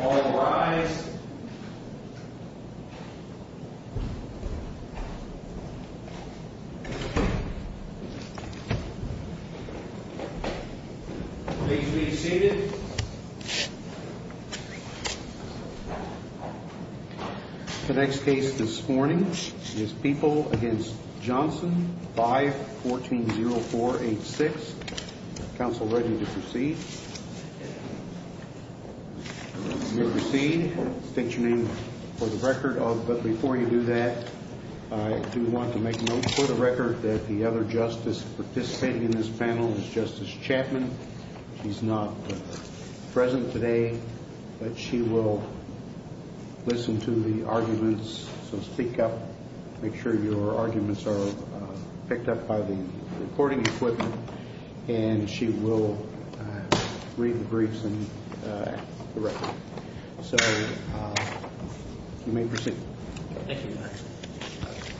All rise. Please be seated. The next case this morning is People v. Johnson, 5-14-0486. Counsel ready to proceed? You may proceed. State your name for the record. But before you do that, I do want to make a note for the record that the other justice participating in this panel is Justice Chapman. She's not present today, but she will listen to the arguments. So speak up. Make sure your arguments are picked up by the recording equipment. And she will read the briefs and the record. So you may proceed. Thank you, Your Honor.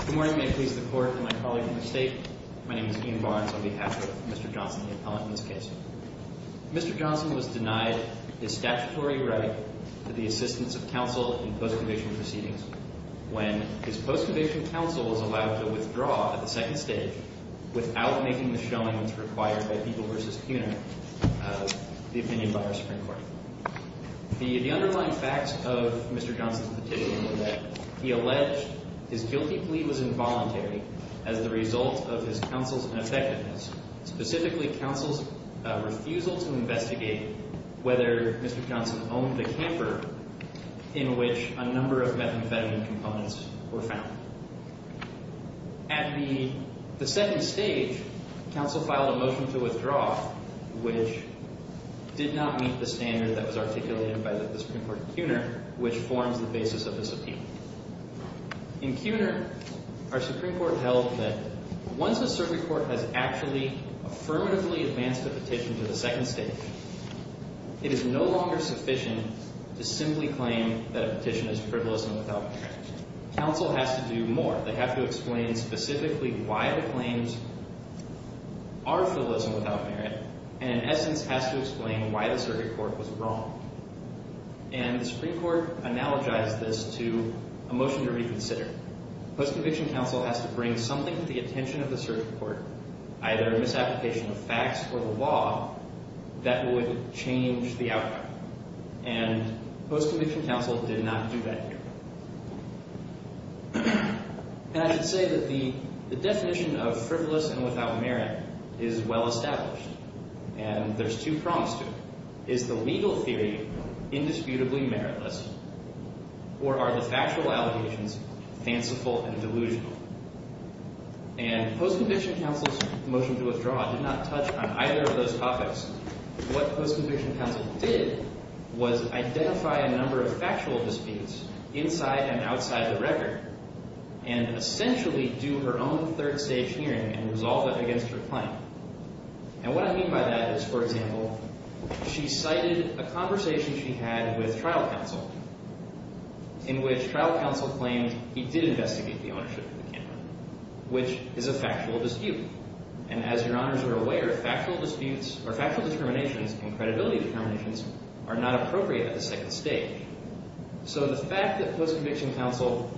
Good morning. May it please the Court and my colleagues in the State. My name is Ian Barnes on behalf of Mr. Johnson, the appellant in this case. Mr. Johnson was denied his statutory right to the assistance of counsel in post-conviction proceedings when his post-conviction counsel was allowed to withdraw at the second stage without making the showings required by People v. CUNA, the opinion by our Supreme Court. The underlying facts of Mr. Johnson's petition were that he alleged his guilty plea was involuntary as the result of his counsel's ineffectiveness, specifically counsel's refusal to investigate whether Mr. Johnson owned the camper in which a number of methamphetamine components were found. At the second stage, counsel filed a motion to withdraw, which did not meet the standard that was articulated by the Supreme Court in CUNA, which forms the basis of this appeal. In CUNA, our Supreme Court held that once a circuit court has actually affirmatively advanced a petition to the second stage, it is no longer sufficient to simply claim that a petition is frivolous and without merit. Counsel has to do more. They have to explain specifically why the claims are frivolous and without merit, and in essence has to explain why the circuit court was wrong. And the Supreme Court analogized this to a motion to reconsider. Post-conviction counsel has to bring something to the attention of the circuit court, either a misapplication of facts or the law, that would change the outcome. And post-conviction counsel did not do that here. And I should say that the definition of frivolous and without merit is well established, and there's two prongs to it. Is the legal theory indisputably meritless, or are the factual allegations fanciful and delusional? And post-conviction counsel's motion to withdraw did not touch on either of those topics. What post-conviction counsel did was identify a number of factual disputes inside and outside the record and essentially do her own third stage hearing and resolve it against her claim. And what I mean by that is, for example, she cited a conversation she had with trial counsel in which trial counsel claimed he did investigate the ownership of the camera, which is a factual dispute. And as your honors are aware, factual disputes or factual determinations and credibility determinations are not appropriate at the second stage. So the fact that post-conviction counsel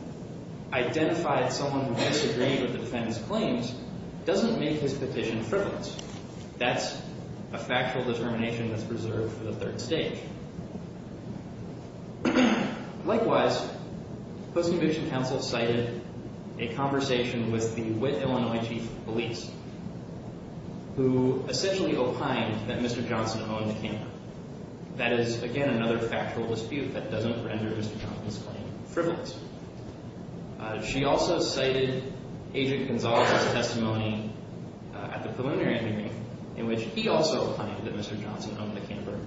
identified someone who disagreed with the defendant's claims doesn't make his petition frivolous. That's a factual determination that's reserved for the third stage. Likewise, post-conviction counsel cited a conversation with the wit Illinois chief of police who essentially opined that Mr. Johnson owned the camera. That is, again, another factual dispute that doesn't render Mr. Johnson's claim frivolous. She also cited Agent Gonzaga's testimony at the preliminary hearing in which he also opined that Mr. Johnson owned the camera.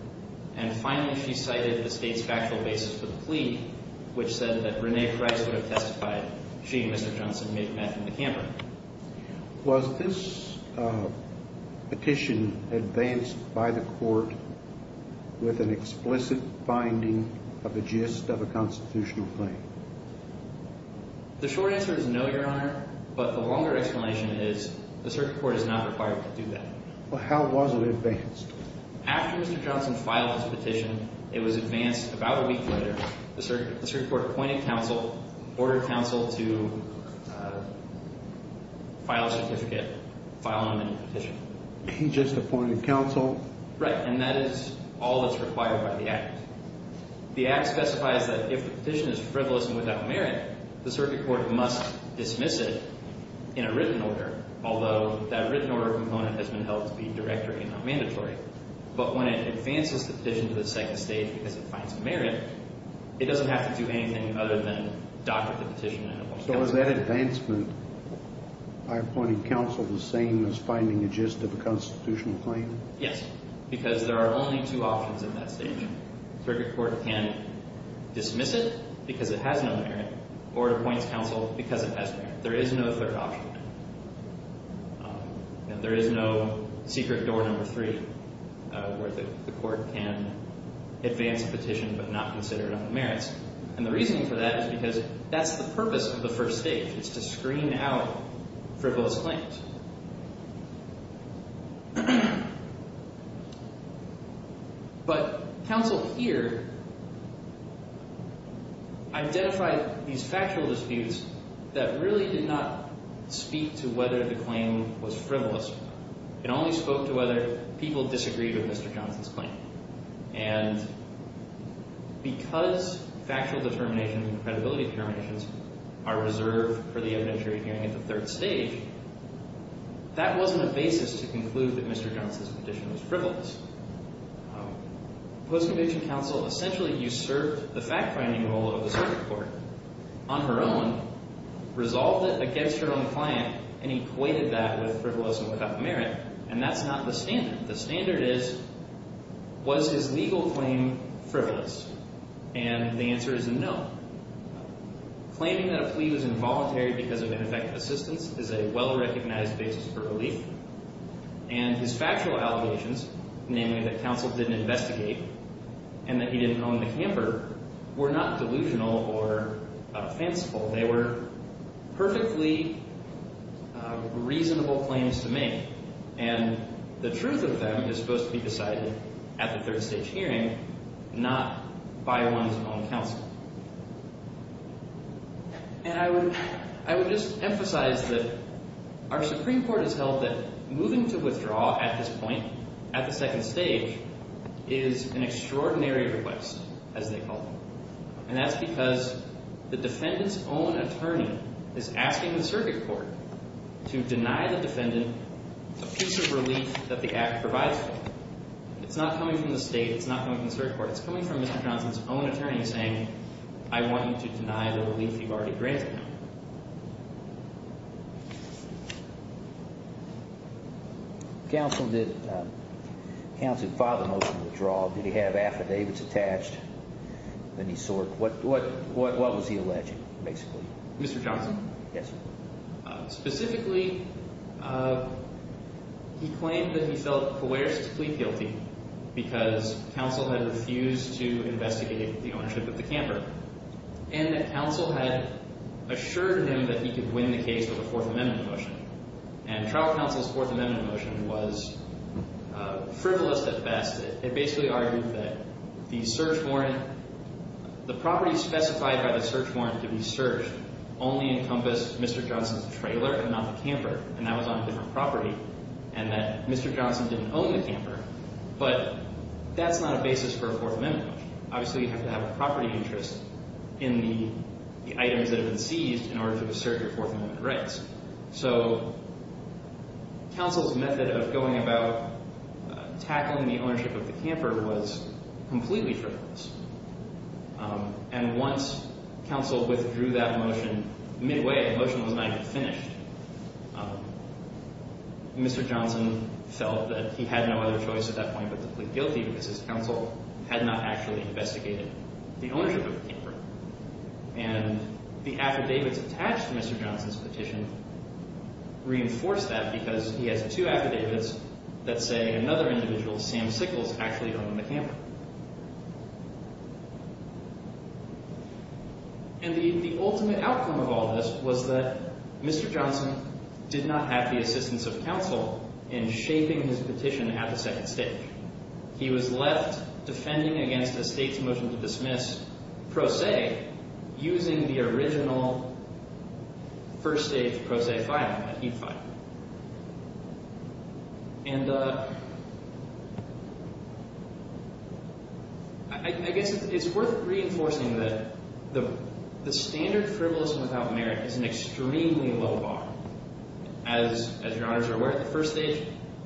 And finally, she cited the state's factual basis for the plea, which said that Renee Price would have testified she and Mr. Johnson met in the camera. Was this petition advanced by the court with an explicit finding of a gist of a constitutional claim? The short answer is no, your honor. But the longer explanation is the circuit court is not required to do that. Well, how was it advanced? After Mr. Johnson filed his petition, it was advanced about a week later. The circuit court appointed counsel, ordered counsel to file a certificate, file an amended petition. He just appointed counsel? Right, and that is all that's required by the Act. The Act specifies that if the petition is frivolous and without merit, the circuit court must dismiss it in a written order, although that written order component has been held to be directory and not mandatory. But when it advances the petition to the second stage because it finds merit, it doesn't have to do anything other than doctor the petition. So is that advancement by appointing counsel the same as finding a gist of a constitutional claim? Yes, because there are only two options at that stage. The circuit court can dismiss it because it has no merit or it appoints counsel because it has merit. There is no third option. There is no secret door number three where the court can advance a petition but not consider it on the merits. And the reason for that is because that's the purpose of the first stage is to screen out frivolous claims. But counsel here identified these factual disputes that really did not speak to whether the claim was frivolous. It only spoke to whether people disagreed with Mr. Johnson's claim. And because factual determinations and credibility determinations are reserved for the evidentiary hearing at the third stage, that wasn't a basis to conclude that Mr. Johnson's petition was frivolous. Post-conviction counsel essentially usurped the fact-finding role of the circuit court on her own, resolved it against her own client, and equated that with frivolous and without merit. And that's not the standard. The standard is, was his legal claim frivolous? And the answer is a no. Claiming that a plea was involuntary because of ineffective assistance is a well-recognized basis for relief. And his factual allegations, namely that counsel didn't investigate and that he didn't own the camper, were not delusional or offensive. They were perfectly reasonable claims to make. And the truth of them is supposed to be decided at the third stage hearing, not by one's own counsel. And I would just emphasize that our Supreme Court has held that moving to withdraw at this point, at the second stage, is an extraordinary request, as they call it. And that's because the defendant's own attorney is asking the circuit court to deny the defendant a piece of relief that the act provides for him. It's not coming from the state. It's not coming from the circuit court. It's coming from Mr. Johnson's own attorney saying, I want you to deny the relief you've already granted him. Counsel, did counsel file the motion to withdraw? Did he have affidavits attached? What was he alleging, basically? Mr. Johnson? Yes, sir. Specifically, he claimed that he felt coercively guilty because counsel had refused to investigate the ownership of the camper. And that counsel had assured him that he could win the case with a Fourth Amendment motion. And trial counsel's Fourth Amendment motion was frivolous at best. It basically argued that the search warrant, the property specified by the search warrant to be searched only encompassed Mr. Johnson's trailer and not the camper. And that was on a different property, and that Mr. Johnson didn't own the camper. But that's not a basis for a Fourth Amendment motion. Obviously, you have to have a property interest in the items that have been seized in order to assert your Fourth Amendment rights. So counsel's method of going about tackling the ownership of the camper was completely frivolous. And once counsel withdrew that motion midway, the motion was not even finished, Mr. Johnson felt that he had no other choice at that point but to plead guilty because his counsel had not actually investigated the ownership of the camper. And the affidavits attached to Mr. Johnson's petition reinforced that because he has two affidavits that say another individual, Sam Sickles, actually owned the camper. And the ultimate outcome of all this was that Mr. Johnson did not have the assistance of counsel in shaping his petition at the second stage. He was left defending against a state's motion to dismiss pro se using the original first-stage pro se filing that he'd filed. And I guess it's worth reinforcing that the standard frivolous and without merit is an extremely low bar. As your honors are aware, at the first stage,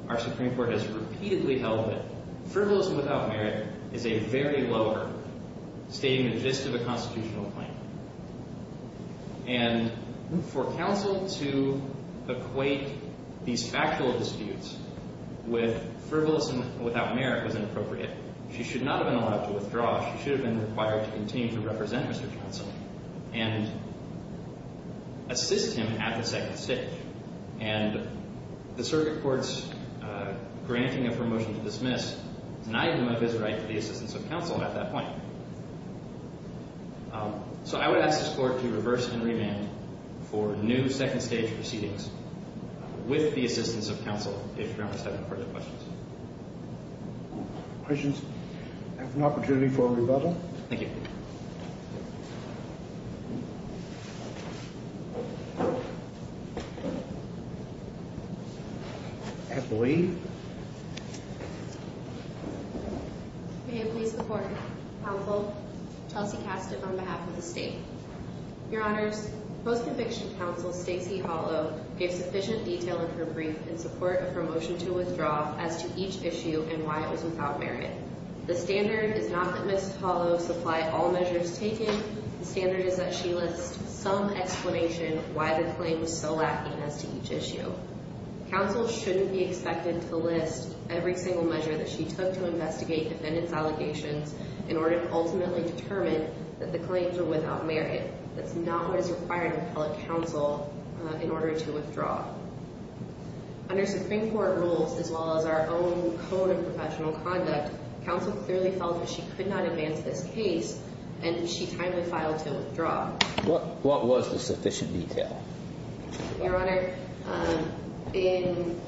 our Supreme Court has repeatedly held that frivolous and without merit is a very low bar, stating the gist of a constitutional claim. And for counsel to equate these factual disputes with frivolous and without merit was inappropriate. She should not have been allowed to withdraw. She should have been required to continue to represent Mr. Johnson and assist him at the second stage. And the circuit court's granting of her motion to dismiss denied him of his right to the assistance of counsel at that point. So I would ask the court to reverse and remand for new second-stage proceedings with the assistance of counsel, if your honors have any further questions. Questions? I have an opportunity for a rebuttal. Thank you. I believe. May it please the court. Counsel Chelsea Castiff on behalf of the state. Your honors, post-conviction counsel Stacey Hollow gave sufficient detail in her brief in support of her motion to withdraw as to each issue and why it was without merit. The standard is not that Ms. Hollow supply all measures taken. The standard is that she list some explanation why the claim was so lacking as to each issue. Counsel shouldn't be expected to list every single measure that she took to investigate defendant's allegations in order to ultimately determine that the claims are without merit. That's not what is required of appellate counsel in order to withdraw. Under Supreme Court rules as well as our own code of professional conduct, counsel clearly felt that she could not advance this case and she timely filed to withdraw. What was the sufficient detail? Your honor, in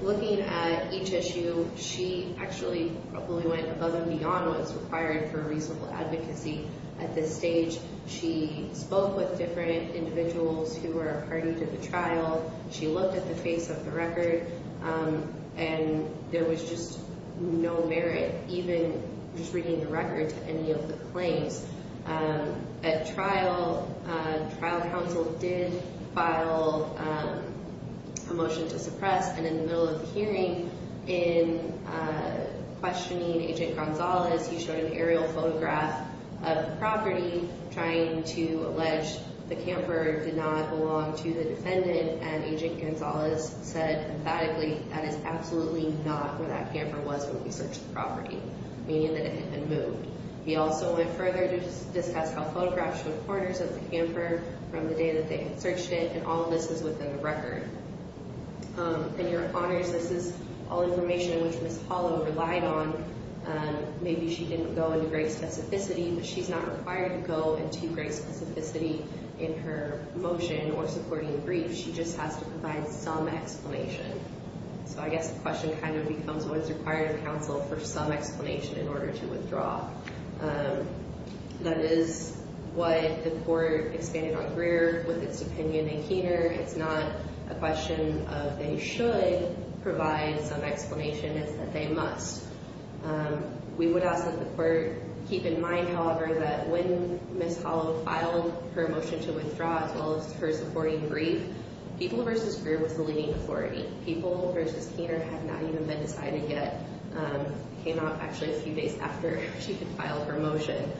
looking at each issue, she actually probably went above and beyond what is required for reasonable advocacy at this stage. She spoke with different individuals who were a party to the trial. She looked at the face of the record and there was just no merit even just reading the record to any of the claims. At trial, trial counsel did file a motion to suppress. And in the middle of the hearing, in questioning Agent Gonzalez, he showed an aerial photograph of the property trying to allege the camper did not belong to the defendant. And Agent Gonzalez said emphatically, that is absolutely not where that camper was when we searched the property, meaning that it had been moved. He also went further to discuss how photographs from corners of the camper from the day that they had searched it and all of this is within the record. And your honors, this is all information which Ms. Hollow relied on. Maybe she didn't go into great specificity, but she's not required to go into great specificity in her motion or supporting briefs. She just has to provide some explanation. So I guess the question kind of becomes what's required of counsel for some explanation in order to withdraw. That is what the court expanded on Greer with its opinion in Keener. It's not a question of they should provide some explanation. It's that they must. We would ask that the court keep in mind, however, that when Ms. Hollow filed her motion to withdraw as well as her supporting brief, People v. Greer was the leading authority. People v. Keener had not even been decided yet. It came out actually a few days after she had filed her motion.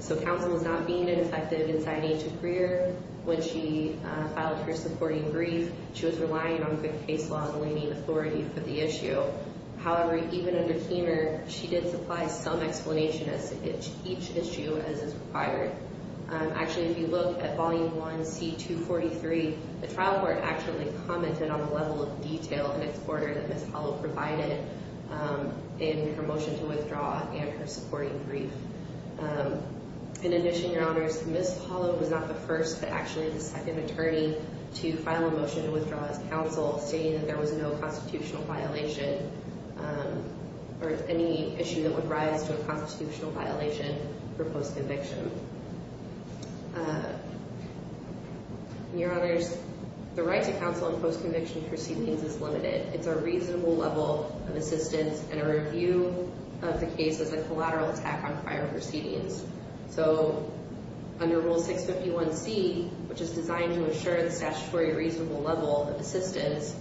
So counsel was not being ineffective in signing to Greer when she filed her supporting brief. She was relying on the case law as a leading authority for the issue. However, even under Keener, she did supply some explanation as to each issue as is required. Actually, if you look at Volume 1, C-243, the trial court actually commented on the level of detail in its order that Ms. Hollow provided in her motion to withdraw and her supporting brief. In addition, Your Honors, Ms. Hollow was not the first, but actually the second attorney to file a motion to withdraw as counsel, stating that there was no constitutional violation or any issue that would rise to a constitutional violation for post-conviction. Your Honors, the right to counsel in post-conviction proceedings is limited. It's a reasonable level of assistance and a review of the case is a collateral attack on prior proceedings. So under Rule 651C, which is designed to ensure the statutory reasonable level of assistance,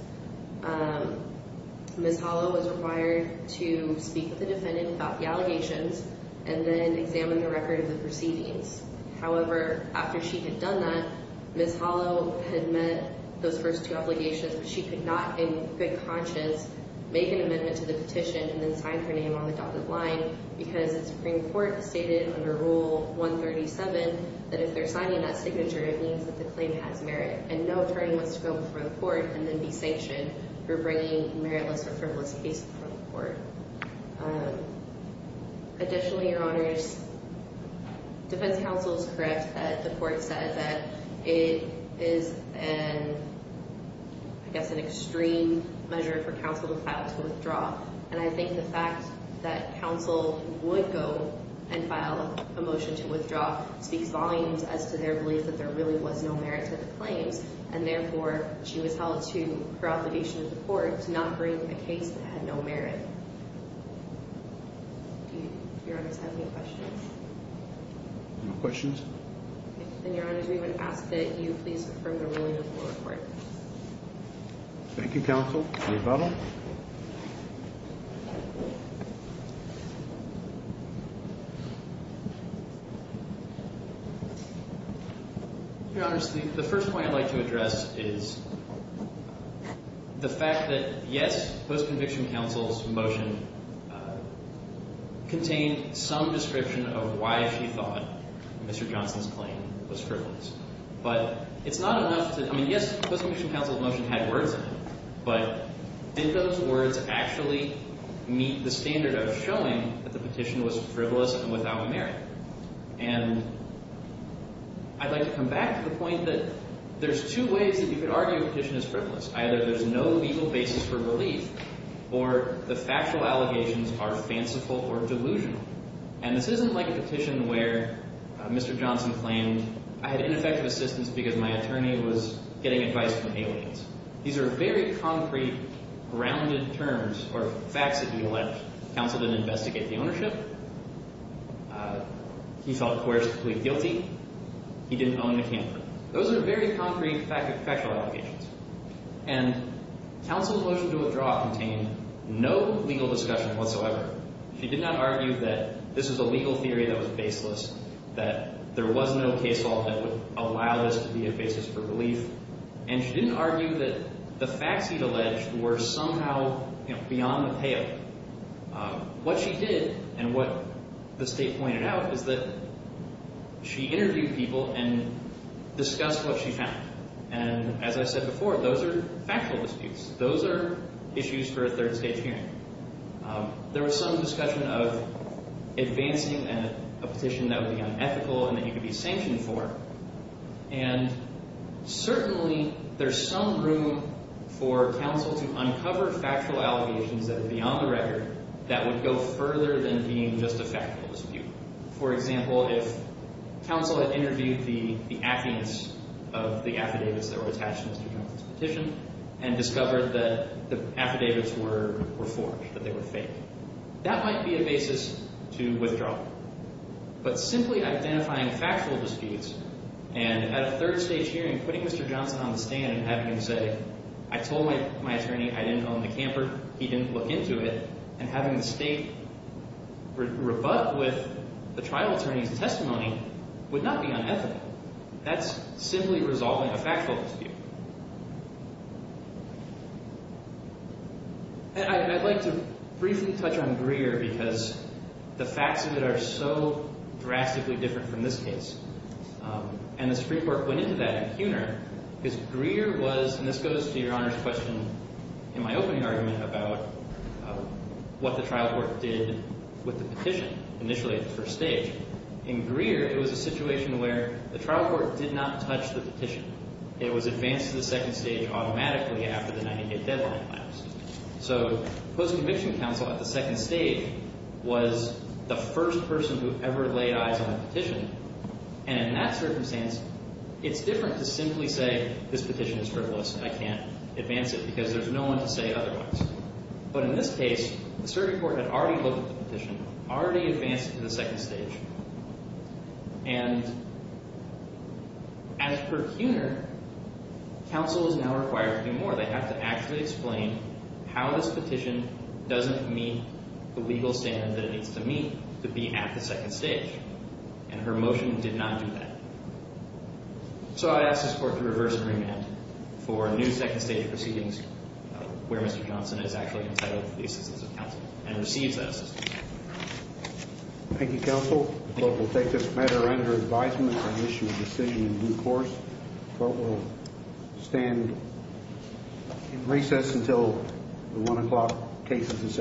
Ms. Hollow was required to speak with the defendant about the allegations and then examine the record of the proceedings. However, after she had done that, Ms. Hollow had met those first two obligations, but she could not in good conscience make an amendment to the petition and then sign her name on the dotted line because the Supreme Court stated under Rule 137 that if they're signing that signature, it means that the claim has merit and no attorney wants to go before the court and then be sanctioned for bringing a meritless or frivolous case before the court. Additionally, Your Honors, defense counsel is correct that the court said that it is an, I guess, an extreme measure for counsel to file to withdraw. And I think the fact that counsel would go and file a motion to withdraw speaks volumes as to their belief that there really was no merit to the claims. And therefore, she was held to her obligation to the court to not bring a case that had no merit. Do you, Your Honors, have any questions? No questions. Then, Your Honors, we would ask that you please confirm the ruling before the court. Thank you, counsel. Any further? Your Honors, the first point I'd like to address is the fact that, yes, post-conviction counsel's motion contained some description of why she thought Mr. Johnson's claim was frivolous. But it's not enough to – I mean, yes, post-conviction counsel's motion had words in it. But did those words actually meet the standard of showing that the petition was frivolous and without merit? And I'd like to come back to the point that there's two ways that you could argue a petition is frivolous. Either there's no legal basis for belief or the factual allegations are fanciful or delusional. And this isn't like a petition where Mr. Johnson claimed, I had ineffective assistance because my attorney was getting advice from aliens. These are very concrete, grounded terms or facts that he alleged. Counsel didn't investigate the ownership. He felt the court was completely guilty. He didn't own the camper. Those are very concrete factual allegations. And counsel's motion to withdraw contained no legal discussion whatsoever. She did not argue that this was a legal theory that was baseless, that there was no case law that would allow this to be a basis for belief. And she didn't argue that the facts he'd alleged were somehow beyond the pale. What she did and what the State pointed out is that she interviewed people and discussed what she found. And as I said before, those are factual disputes. Those are issues for a third-stage hearing. There was some discussion of advancing a petition that would be unethical and that you could be sanctioned for. And certainly there's some room for counsel to uncover factual allegations that are beyond the record that would go further than being just a factual dispute. For example, if counsel had interviewed the affidavits of the affidavits that were attached to Mr. Johnson's petition and discovered that the affidavits were forged, that they were fake, that might be a basis to withdraw. But simply identifying factual disputes and at a third-stage hearing, putting Mr. Johnson on the stand and having him say, I told my attorney I didn't own the camper, he didn't look into it, and having the State rebut with the trial attorney's testimony would not be unethical. That's simply resolving a factual dispute. I'd like to briefly touch on Greer because the facts of it are so drastically different from this case. And the Supreme Court went into that in Cuner because Greer was, and this goes to Your Honor's question in my opening argument about what the trial court did with the petition initially at the first stage. In Greer, it was a situation where the trial court did not touch the petition. It was advanced to the second stage automatically after the 90-day deadline passed. So post-conviction counsel at the second stage was the first person who ever laid eyes on a petition. And in that circumstance, it's different to simply say this petition is frivolous and I can't advance it because there's no one to say otherwise. But in this case, the Supreme Court had already looked at the petition, already advanced it to the second stage. And as per Cuner, counsel is now required to do more. They have to actually explain how this petition doesn't meet the legal standard that it needs to meet to be at the second stage. And her motion did not do that. So I ask this Court to reverse agreement for a new second stage proceedings where Mr. Johnson is actually entitled to the assistance of counsel and receives that assistance. Thank you, Counsel. The Court will take this matter under advisement and issue a decision in due course. The Court will stand in recess until the 1 o'clock case is accepted. All rise.